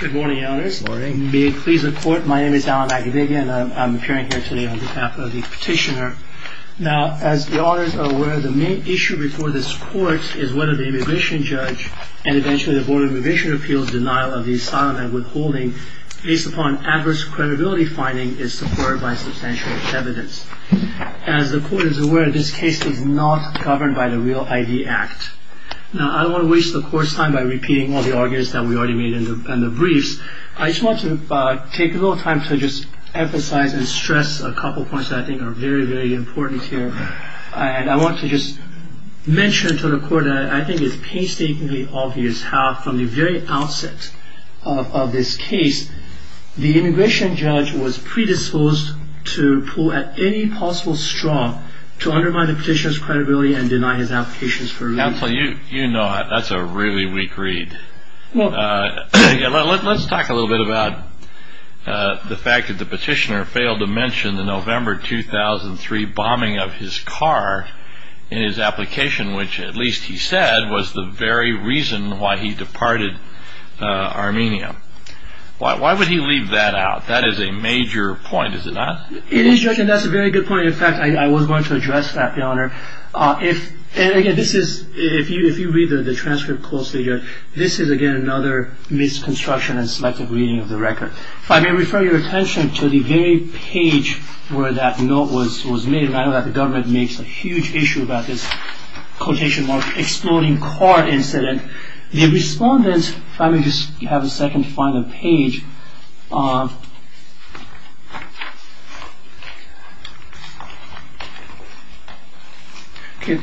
Good morning, Your Honors. May it please the Court, my name is Alan McAvigia and I'm appearing here today on behalf of the Petitioner. Now, as the Honors are aware, the main issue before this Court is whether the Immigration Judge and eventually the Board of Immigration Appeals' denial of the asylum and withholding, based upon adverse credibility findings, is supported by substantial evidence. As the Court is aware, this case is not governed by the REAL ID Act. Now, I don't want to waste the Court's time by repeating all the arguments that we already made in the briefs. I just want to take a little time to just emphasize and stress a couple of points that I think are very, very important here. And I want to just mention to the Court that I think it's painstakingly obvious how, from the very outset of this case, the Immigration Judge was predisposed to pull at any possible straw to undermine the Petitioner's credibility and deny his applications for release. Counsel, you know that's a really weak read. Let's talk a little bit about the fact that the Petitioner failed to mention the November 2003 bombing of his car in his application, which, at least he said, was the very reason why he departed Armenia. Why would he leave that out? That is a major point, is it not? It is, Judge, and that's a very good point. In fact, I was going to address that, Your Honor. And, again, if you read the transcript closely, Judge, this is, again, another misconstruction in selective reading of the record. If I may refer your attention to the very page where that note was made, and I know that the government makes a huge issue about this, quotation mark, exploding car incident, the respondent, if I may just have a second to find the page,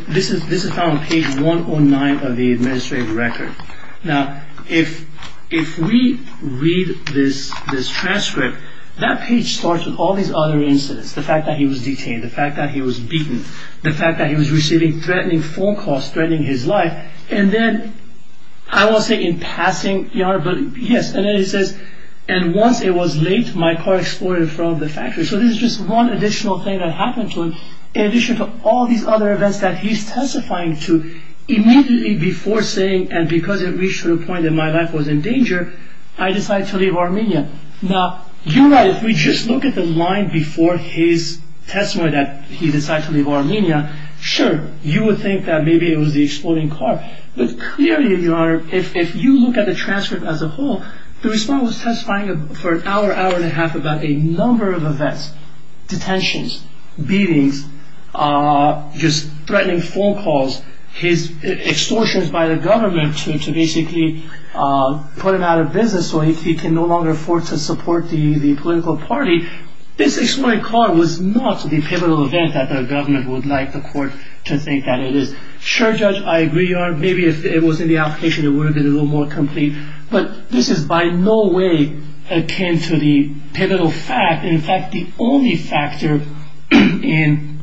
this is found on page 109 of the administrative record. Now, if we read this transcript, that page starts with all these other incidents, the fact that he was detained, the fact that he was beaten, the fact that he was receiving threatening phone calls threatening his life, and then, I won't say in passing, Your Honor, but yes, and then he says, and once it was late, my car exploded in front of the factory. So, this is just one additional thing that happened to him, in addition to all these other events that he's testifying to, immediately before saying, and because it reached to the point that my life was in danger, I decided to leave Armenia. Now, you're right, if we just look at the line before his testimony that he decided to leave Armenia, sure, you would think that maybe it was the exploding car, but clearly, Your Honor, if you look at the transcript as a whole, the respondent was testifying for an hour, hour and a half, about a number of events, detentions, beatings, just threatening phone calls, his extortions by the government to basically put him out of business, so he can no longer afford to support the political party. This exploding car was not the pivotal event that the government would like the court to think that it is. Sure, Judge, I agree, Your Honor, maybe if it was in the application, it would have been a little more complete, but this is by no way akin to the pivotal fact, and in fact, the only factor in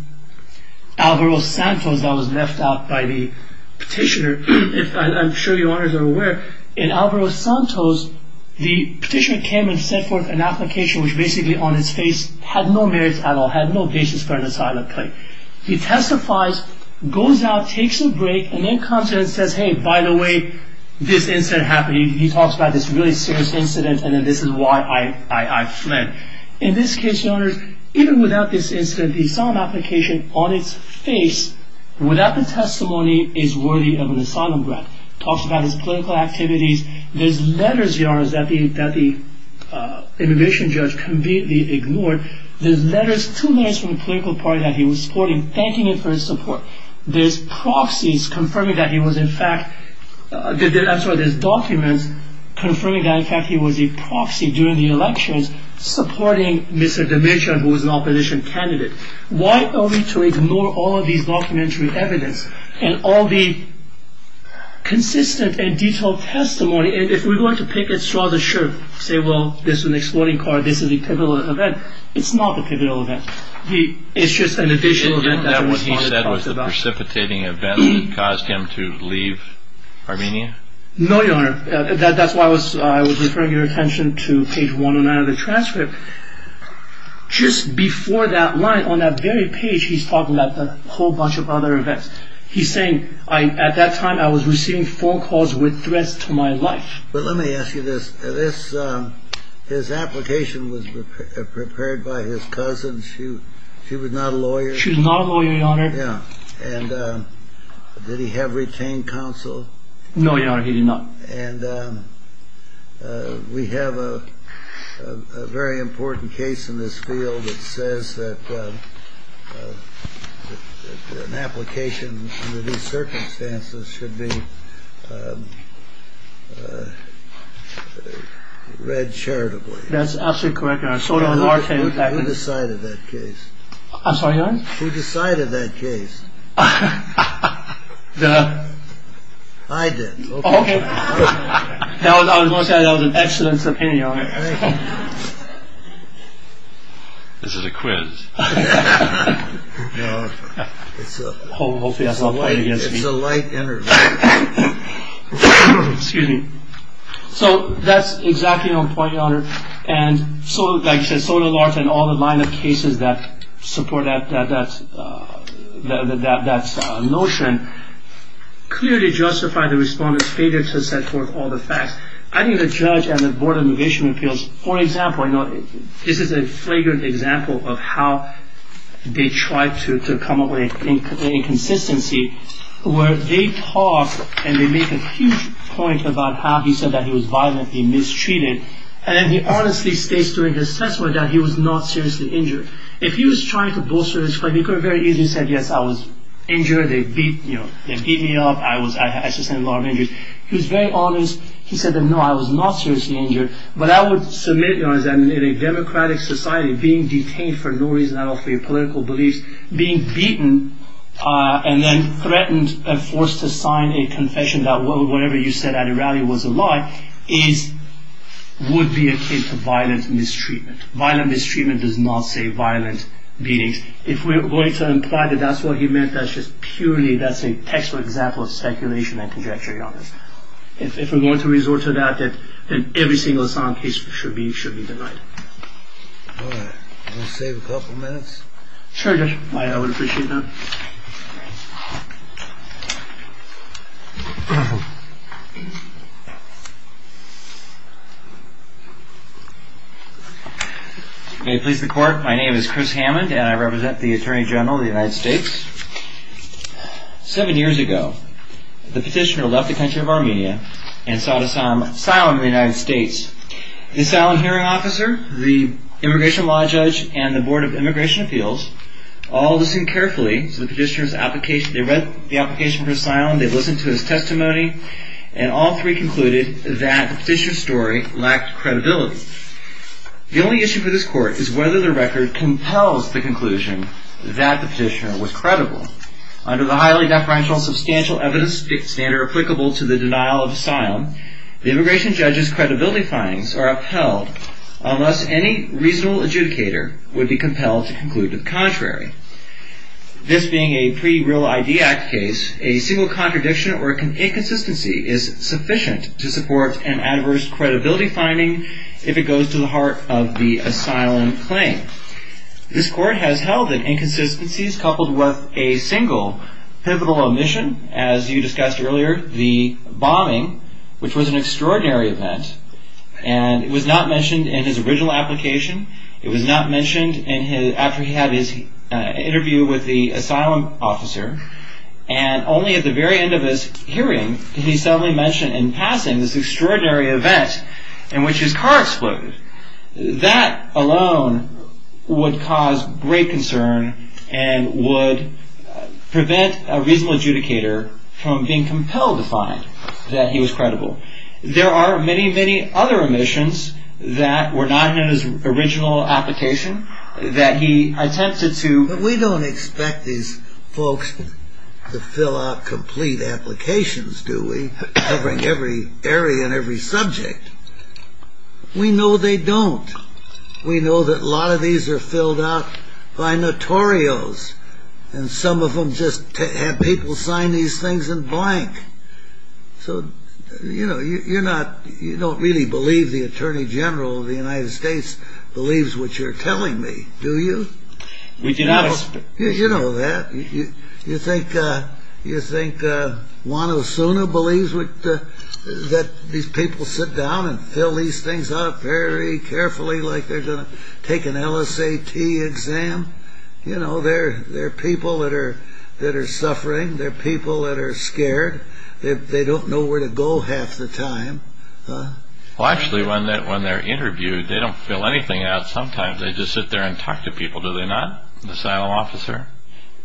Alvaro Santos that was left out by the petitioner, if I'm sure Your Honors are aware, in Alvaro Santos, the petitioner came and set forth an application which basically on its face had no merit at all, had no basis for an asylum claim. He testifies, goes out, takes a break, and then comes in and says, hey, by the way, this incident happened, he talks about this really serious incident, and this is why I fled. In this case, Your Honors, even without this incident, the asylum application on its face, without the testimony, is worthy of an asylum grant. Talks about his political activities. There's letters, Your Honors, that the immigration judge completely ignored. There's letters, two letters from the political party that he was supporting, thanking him for his support. There's proxies confirming that he was in fact, I'm sorry, there's documents confirming that in fact he was a proxy during the elections supporting Mr. Dimitra, who was an opposition candidate. Why are we to ignore all of these documentary evidence, and all the consistent and detailed testimony, and if we're going to pick and straw the shirt, say, well, this is an exploiting card, this is a pivotal event, it's not a pivotal event. It's just an additional event that the respondent talks about. And yet what he said was the precipitating event that caused him to leave Armenia? No, Your Honor. That's why I was referring your attention to page 109 of the transcript. Just before that line, on that very page, he's talking about a whole bunch of other events. He's saying, at that time, I was receiving phone calls with threats to my life. But let me ask you this. His application was prepared by his cousin. She was not a lawyer. She was not a lawyer, Your Honor. Yeah. And did he have retained counsel? No, Your Honor, he did not. And we have a very important case in this field that says that an application under these circumstances should be read charitably. That's absolutely correct, Your Honor. Who decided that case? I'm sorry, Your Honor? Who decided that case? I did. Okay. I was going to say that was an excellent subpoena, Your Honor. This is a quiz. Hopefully that's not pointed against me. It's a light interview. Excuse me. So that's exactly your point, Your Honor. And so, like I said, Sotomayor and all the line of cases that support that notion clearly justify the Respondent's failure to set forth all the facts. I think the judge and the Board of Negation Appeals, for example, you know, this is a flagrant example of how they try to come up with inconsistency, where they talk and they make a huge point about how he said that he was violent, he mistreated, and then he honestly states during the testimony that he was not seriously injured. If he was trying to bolster his claim, he could have very easily said, yes, I was injured, they beat me up, I sustained a lot of injuries. He was very honest. He said that, no, I was not seriously injured. But I would submit, Your Honor, that in a democratic society, being detained for no reason at all, for your political beliefs, being beaten and then threatened and forced to sign a confession that whatever you said at a rally was a lie, would be akin to violent mistreatment. Violent mistreatment does not say violent beatings. If we're going to imply that that's what he meant, that's just purely, that's a textual example of speculation and conjecture, Your Honor. If we're going to resort to that, then every single asylum case should be denied. All right. Want to save a couple minutes? Sure, Judge. I would appreciate that. May it please the Court, my name is Chris Hammond and I represent the Attorney General of the United States. Seven years ago, the petitioner left the country of Armenia and sought asylum in the United States. The asylum hearing officer, the immigration law judge, and the Board of Immigration Appeals all listened carefully to the petitioner's application. They read the application for asylum. They listened to his testimony. And all three concluded that the petitioner's story lacked credibility. The only issue for this Court is whether the record compels the conclusion that the petitioner was credible. Under the highly deferential substantial evidence standard applicable to the denial of asylum, the immigration judge's credibility findings are upheld unless any reasonable adjudicator would be compelled to conclude the contrary. This being a pre-Real ID Act case, a single contradiction or inconsistency is sufficient to support an adverse credibility finding if it goes to the heart of the asylum claim. This Court has held that inconsistencies coupled with a single pivotal omission, as you discussed earlier, the bombing, which was an extraordinary event. And it was not mentioned in his original application. It was not mentioned after he had his interview with the asylum officer. And only at the very end of his hearing did he suddenly mention in passing this extraordinary event in which his car exploded. That alone would cause great concern and would prevent a reasonable adjudicator from being compelled to find that he was credible. There are many, many other omissions that were not in his original application that he attempted to... But we don't expect these folks to fill out complete applications, do we, covering every area and every subject. We know they don't. We know that a lot of these are filled out by notorios. And some of them just have people sign these things in blank. So, you know, you don't really believe the Attorney General of the United States believes what you're telling me, do you? We do not. You know that. You think Juan Osuna believes that these people sit down and fill these things out very carefully like they're going to take an LSAT exam? You know, they're people that are suffering. They're people that are scared. They don't know where to go half the time. Well, actually, when they're interviewed, they don't fill anything out. Sometimes they just sit there and talk to people, do they not, the asylum officer?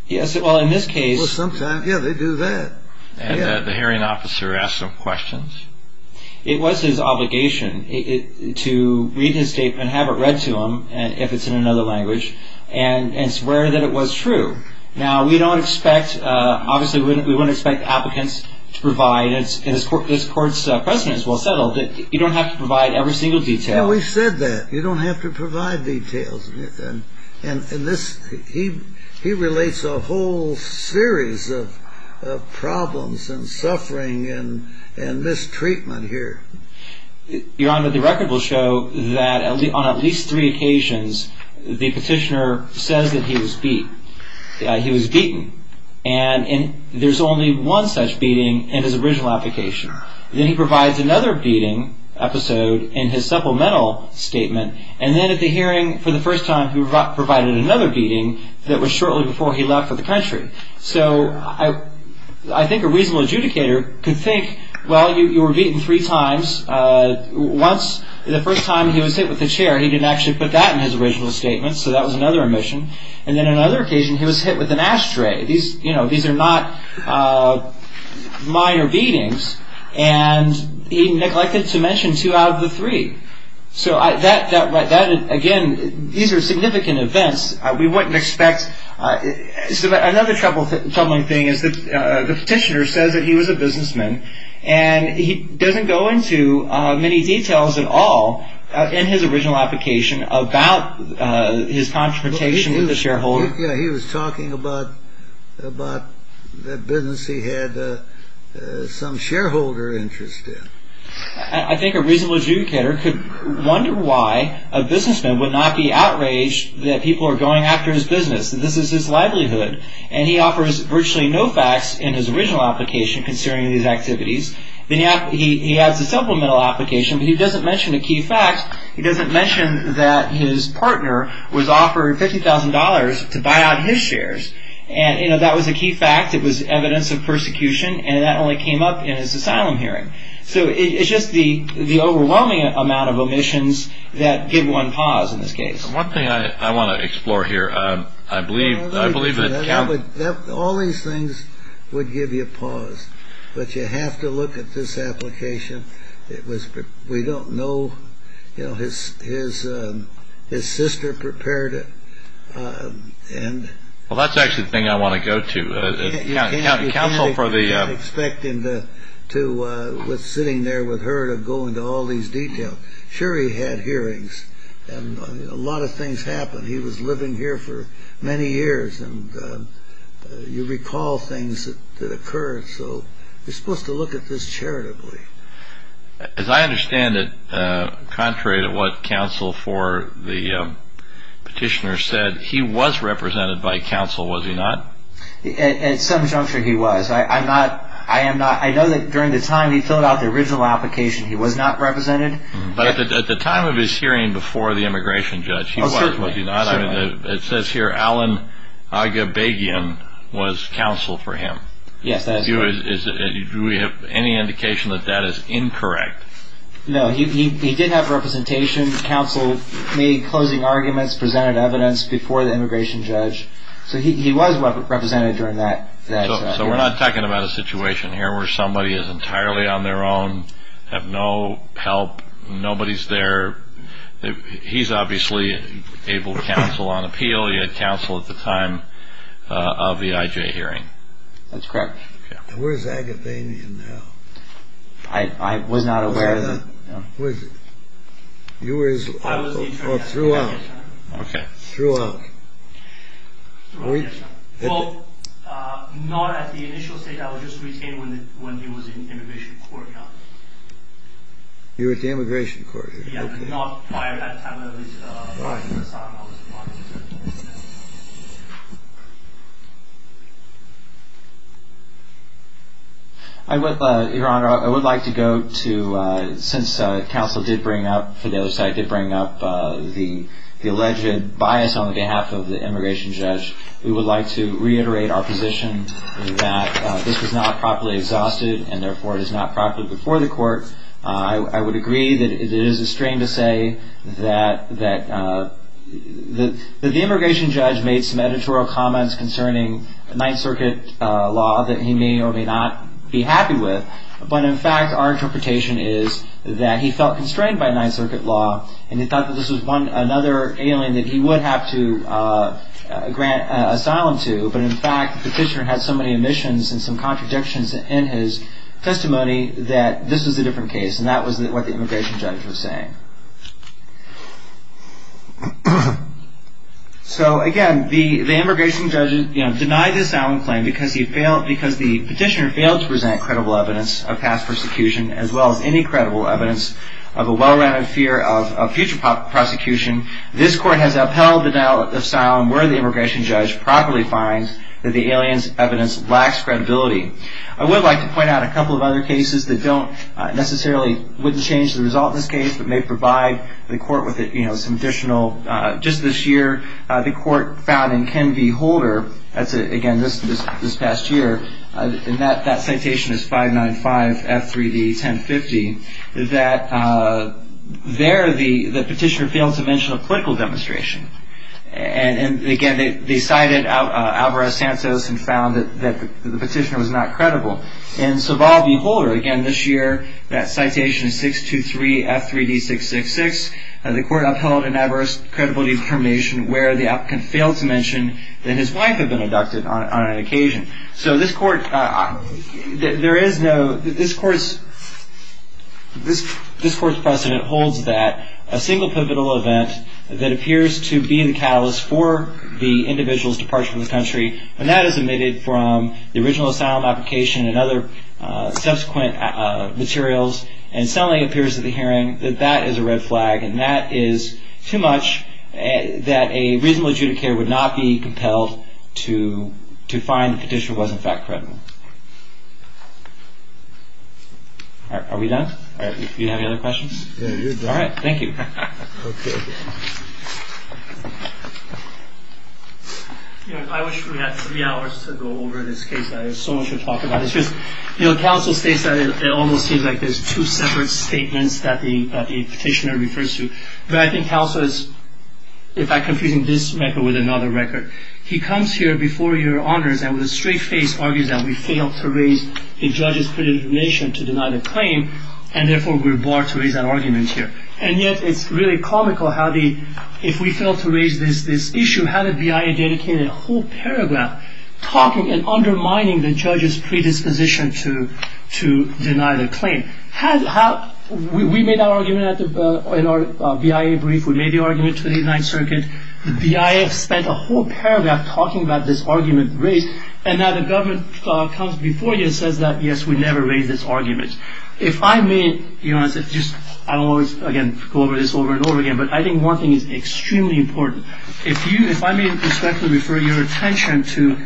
Yes. Well, in this case... Well, sometimes, yeah, they do that. And the hearing officer asks them questions? It was his obligation to read his statement, have it read to him, if it's in another language, and swear that it was true. Now, we don't expect... Obviously, we wouldn't expect applicants to provide, and this Court's precedent is well settled, that you don't have to provide every single detail. Yeah, we said that. You don't have to provide details. He relates a whole series of problems and suffering and mistreatment here. Your Honor, the record will show that on at least three occasions, the petitioner says that he was beat, he was beaten. And there's only one such beating in his original application. Then he provides another beating episode in his supplemental statement. And then at the hearing, for the first time, he provided another beating that was shortly before he left for the country. So I think a reasonable adjudicator could think, well, you were beaten three times. Once, the first time, he was hit with a chair. He didn't actually put that in his original statement, so that was another omission. And then another occasion, he was hit with an ashtray. These are not minor beatings. And he neglected to mention two out of the three. So that, again, these are significant events. We wouldn't expect. Another troubling thing is that the petitioner says that he was a businessman, and he doesn't go into many details at all in his original application about his confrontation with the shareholder. Yeah, he was talking about the business he had some shareholder interest in. I think a reasonable adjudicator could wonder why a businessman would not be outraged that people are going after his business, that this is his livelihood, and he offers virtually no facts in his original application concerning these activities. He has a supplemental application, but he doesn't mention a key fact. He doesn't mention that his partner was offered $50,000 to buy out his shares. And that was a key fact. It was evidence of persecution, and that only came up in his asylum hearing. So it's just the overwhelming amount of omissions that give one pause in this case. One thing I want to explore here. I believe that all these things would give you a pause, but you have to look at this application. We don't know his sister prepared it. Well, that's actually the thing I want to go to. I can't expect him to, sitting there with her, to go into all these details. Sure, he had hearings, and a lot of things happened. He was living here for many years, and you recall things that occurred. So you're supposed to look at this charitably. As I understand it, contrary to what counsel for the petitioner said, he was represented by counsel, was he not? At some juncture, he was. I know that during the time he filled out the original application, he was not represented. But at the time of his hearing before the immigration judge, he was. Certainly. It says here Alan Aghabagian was counsel for him. Yes, that is correct. Do we have any indication that that is incorrect? No, he did have representation. Counsel made closing arguments, presented evidence before the immigration judge. So he was represented during that. So we're not talking about a situation here where somebody is entirely on their own, have no help, nobody's there. He's obviously able to counsel on appeal. He had counsel at the time of the IJ hearing. That's correct. Where's Aghabagian now? I was not aware of that. You were. I was. Throughout. OK. Throughout. Well, not at the initial state. I was just retained when he was in immigration court. You were at the immigration court. Not prior to that time. Go ahead. Your Honor, I would like to go to, since counsel did bring up, for those that I did bring up, the alleged bias on behalf of the immigration judge, we would like to reiterate our position that this was not properly exhausted, and therefore it is not properly before the court. I would agree that it is a strain to say that the immigration judge made some editorial comments concerning Ninth Circuit law that he may or may not be happy with, but in fact our interpretation is that he felt constrained by Ninth Circuit law and he thought that this was another alien that he would have to grant asylum to, but in fact the petitioner had so many omissions and some contradictions in his testimony that this was a different case and that was what the immigration judge was saying. So, again, the immigration judge denied the asylum claim because the petitioner failed to present credible evidence of past persecution as well as any credible evidence of a well-rounded fear of future prosecution. This court has upheld the denial of asylum where the immigration judge properly finds that the alien's evidence lacks credibility. I would like to point out a couple of other cases that don't necessarily, wouldn't change the result in this case, but may provide the court with some additional, just this year the court found in Ken V. Holder, that's again this past year, and that citation is 595 F3D 1050, that there the petitioner failed to mention a political demonstration. And again, they cited Alvarez-Santos and found that the petitioner was not credible. In Sobol v. Holder, again this year, that citation is 623 F3D 666, the court upheld an adverse credibility determination where the applicant failed to mention that his wife had been abducted on an occasion. So this court, there is no, this court's precedent holds that a single pivotal event that appears to be the catalyst for the individual's departure from the country, when that is omitted from the original asylum application and other subsequent materials, and suddenly appears at the hearing, that that is a red flag and that is too much that a reasonable adjudicator would not be compelled to find the petitioner was in fact credible. Are we done? Do you have any other questions? All right, thank you. I wish we had three hours to go over this case. I have so much to talk about. It's just, you know, counsel states that it almost seems like there's two separate statements that the petitioner refers to. But I think counsel is, in fact, confusing this record with another record. He comes here before your honors and with a straight face argues that we failed to raise a judge's predisposition to deny the claim, and therefore we're barred to raise an argument here. And yet it's really comical how the, if we fail to raise this issue, how the BIA dedicated a whole paragraph talking and undermining the judge's predisposition to deny the claim. We made our argument in our BIA brief. We made the argument in the 29th Circuit. The BIA spent a whole paragraph talking about this argument raised, and now the government comes before you and says that, yes, we never raised this argument. If I may be honest, I always, again, go over this over and over again, but I think one thing is extremely important. If I may respectfully refer your attention to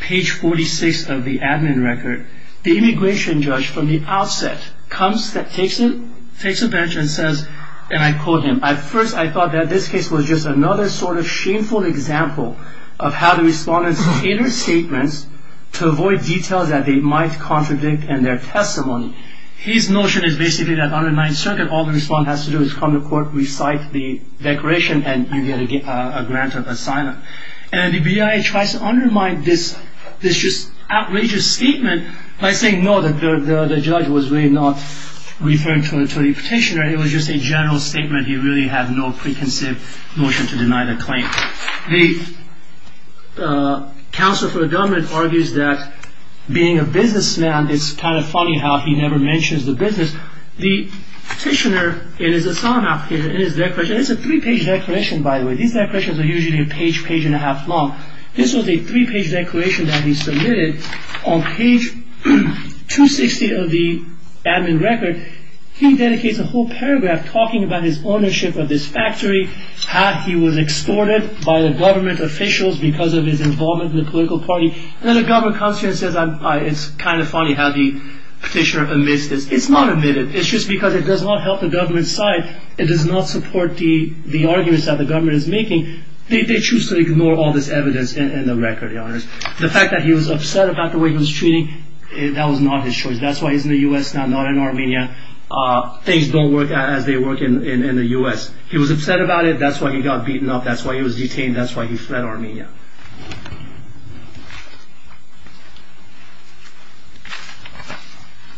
page 46 of the admin record, the immigration judge from the outset comes, takes a bench and says, and I quote him, at first I thought that this case was just another sort of shameful example of how the respondents cater statements to avoid details that they might contradict in their testimony. His notion is basically that on the 9th Circuit, all the respondent has to do is come to court, recite the declaration, and you get a grant of asylum. And the BIA tries to undermine this just outrageous statement by saying, no, the judge was really not referring to the petitioner. It was just a general statement. He really had no preconceived notion to deny the claim. The counsel for the government argues that being a businessman, it's kind of funny how he never mentions the business. The petitioner in his asylum application, in his declaration, it's a three-page declaration, by the way. These declarations are usually a page, page and a half long. This was a three-page declaration that he submitted. On page 260 of the admin record, he dedicates a whole paragraph talking about his ownership of this factory, how he was extorted by the government officials because of his involvement in the political party. And then the government comes to him and says, it's kind of funny how the petitioner admits this. It's not admitted. It's just because it does not help the government's side. It does not support the arguments that the government is making. They choose to ignore all this evidence in the record. The fact that he was upset about the way he was treated, that was not his choice. That's why he's in the U.S. now, not in Armenia. Things don't work out as they work in the U.S. He was upset about it. That's why he got beaten up. That's why he was detained. That's why he fled Armenia.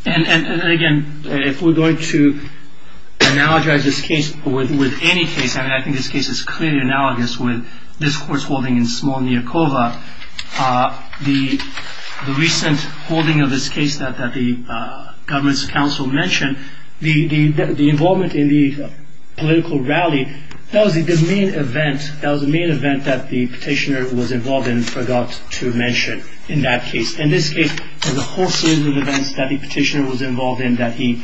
And again, if we're going to analogize this case with any case, I think this case is clearly analogous with this court's holding in Smolnyakova. The recent holding of this case that the government's counsel mentioned, the involvement in the political rally, that was the main event. The event that the petitioner was involved in forgot to mention in that case. In this case, there's a whole series of events that the petitioner was involved in that he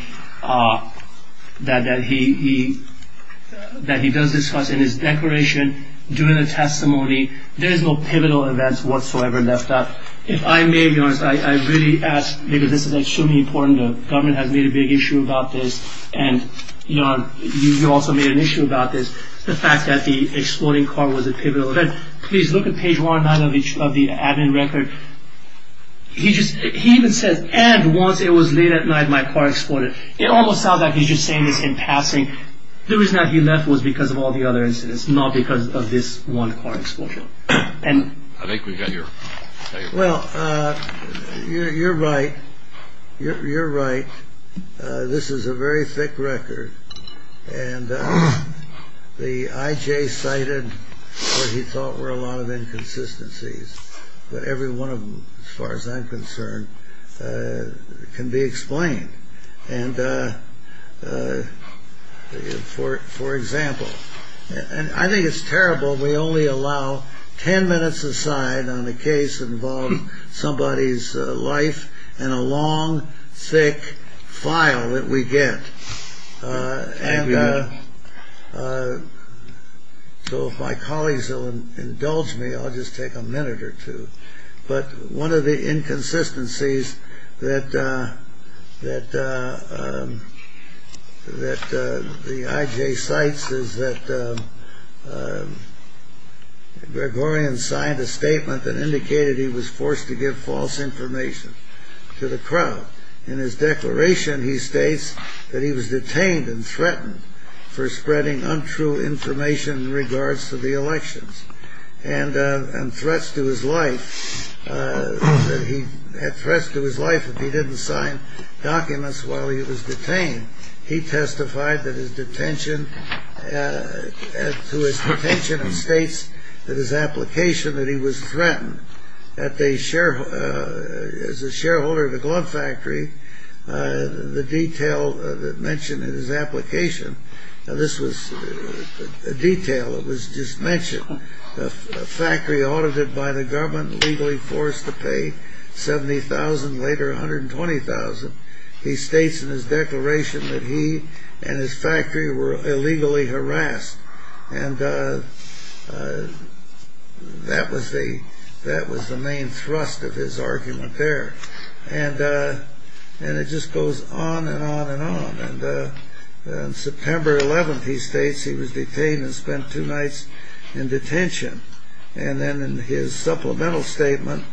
does discuss in his declaration, during the testimony. There's no pivotal events whatsoever left out. If I may be honest, I really ask, because this is extremely important. The government has made a big issue about this, and you also made an issue about this. The fact that the exploding car was a pivotal event. Please look at page one of the admin record. He even says, and once it was late at night, my car exploded. It almost sounds like he's just saying this in passing. The reason that he left was because of all the other incidents, not because of this one car explosion. I think we've got your statement. Well, you're right. You're right. This is a very thick record. The IJ cited what he thought were a lot of inconsistencies. But every one of them, as far as I'm concerned, can be explained. For example, and I think it's terrible, we only allow ten minutes aside on a case involving somebody's life, and a long, thick file that we get. Thank you. So if my colleagues will indulge me, I'll just take a minute or two. But one of the inconsistencies that the IJ cites is that Gregorian signed a statement that indicated he was forced to give false information to the crowd. In his declaration, he states that he was detained and threatened for spreading untrue information in regards to the elections. And threats to his life, that he had threats to his life if he didn't sign documents while he was detained. He testified that his detention, to his detention, and states that his application that he was threatened. As a shareholder of the glove factory, the detail that mentioned in his application, now this was a detail that was just mentioned, a factory audited by the government, legally forced to pay 70,000, later 120,000. He states in his declaration that he and his factory were illegally harassed. And that was the main thrust of his argument there. On September 11th, he states he was detained and spent two nights in detention. And then in his supplemental statement,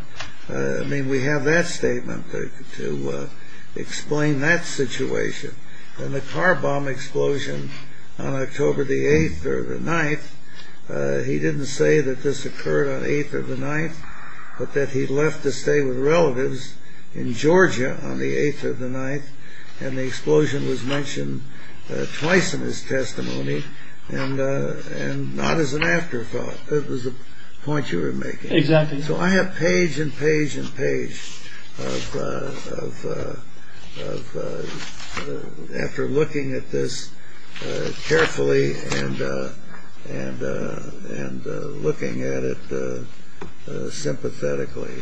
we have that statement to explain that situation. And the car bomb explosion on October the 8th or the 9th, he didn't say that this occurred on the 8th or the 9th, but that he left to stay with relatives in Georgia on the 8th or the 9th. And the explosion was mentioned twice in his testimony and not as an afterthought. It was a point you were making. Exactly. So I have page and page and page of, after looking at this carefully and looking at it sympathetically.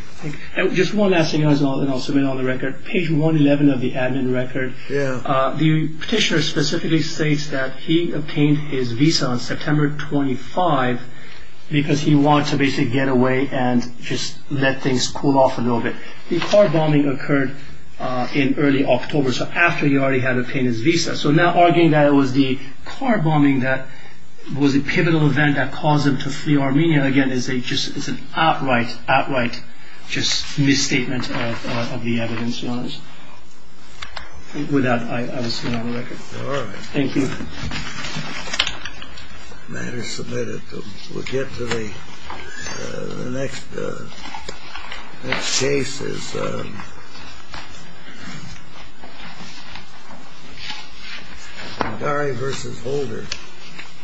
Just one last thing and I'll submit it on the record. Page 111 of the admin record, the petitioner specifically states that he obtained his visa on September 25th because he wanted to basically get away and just let things cool off a little bit. The car bombing occurred in early October, so after he already had obtained his visa. So now arguing that it was the car bombing that was the pivotal event that caused him to flee Armenia, and again, it's an outright, outright misstatement of the evidence. With that, I will submit it on the record. All right. Thank you. The matter is submitted. We'll get to the next case. This is Dari versus Holder.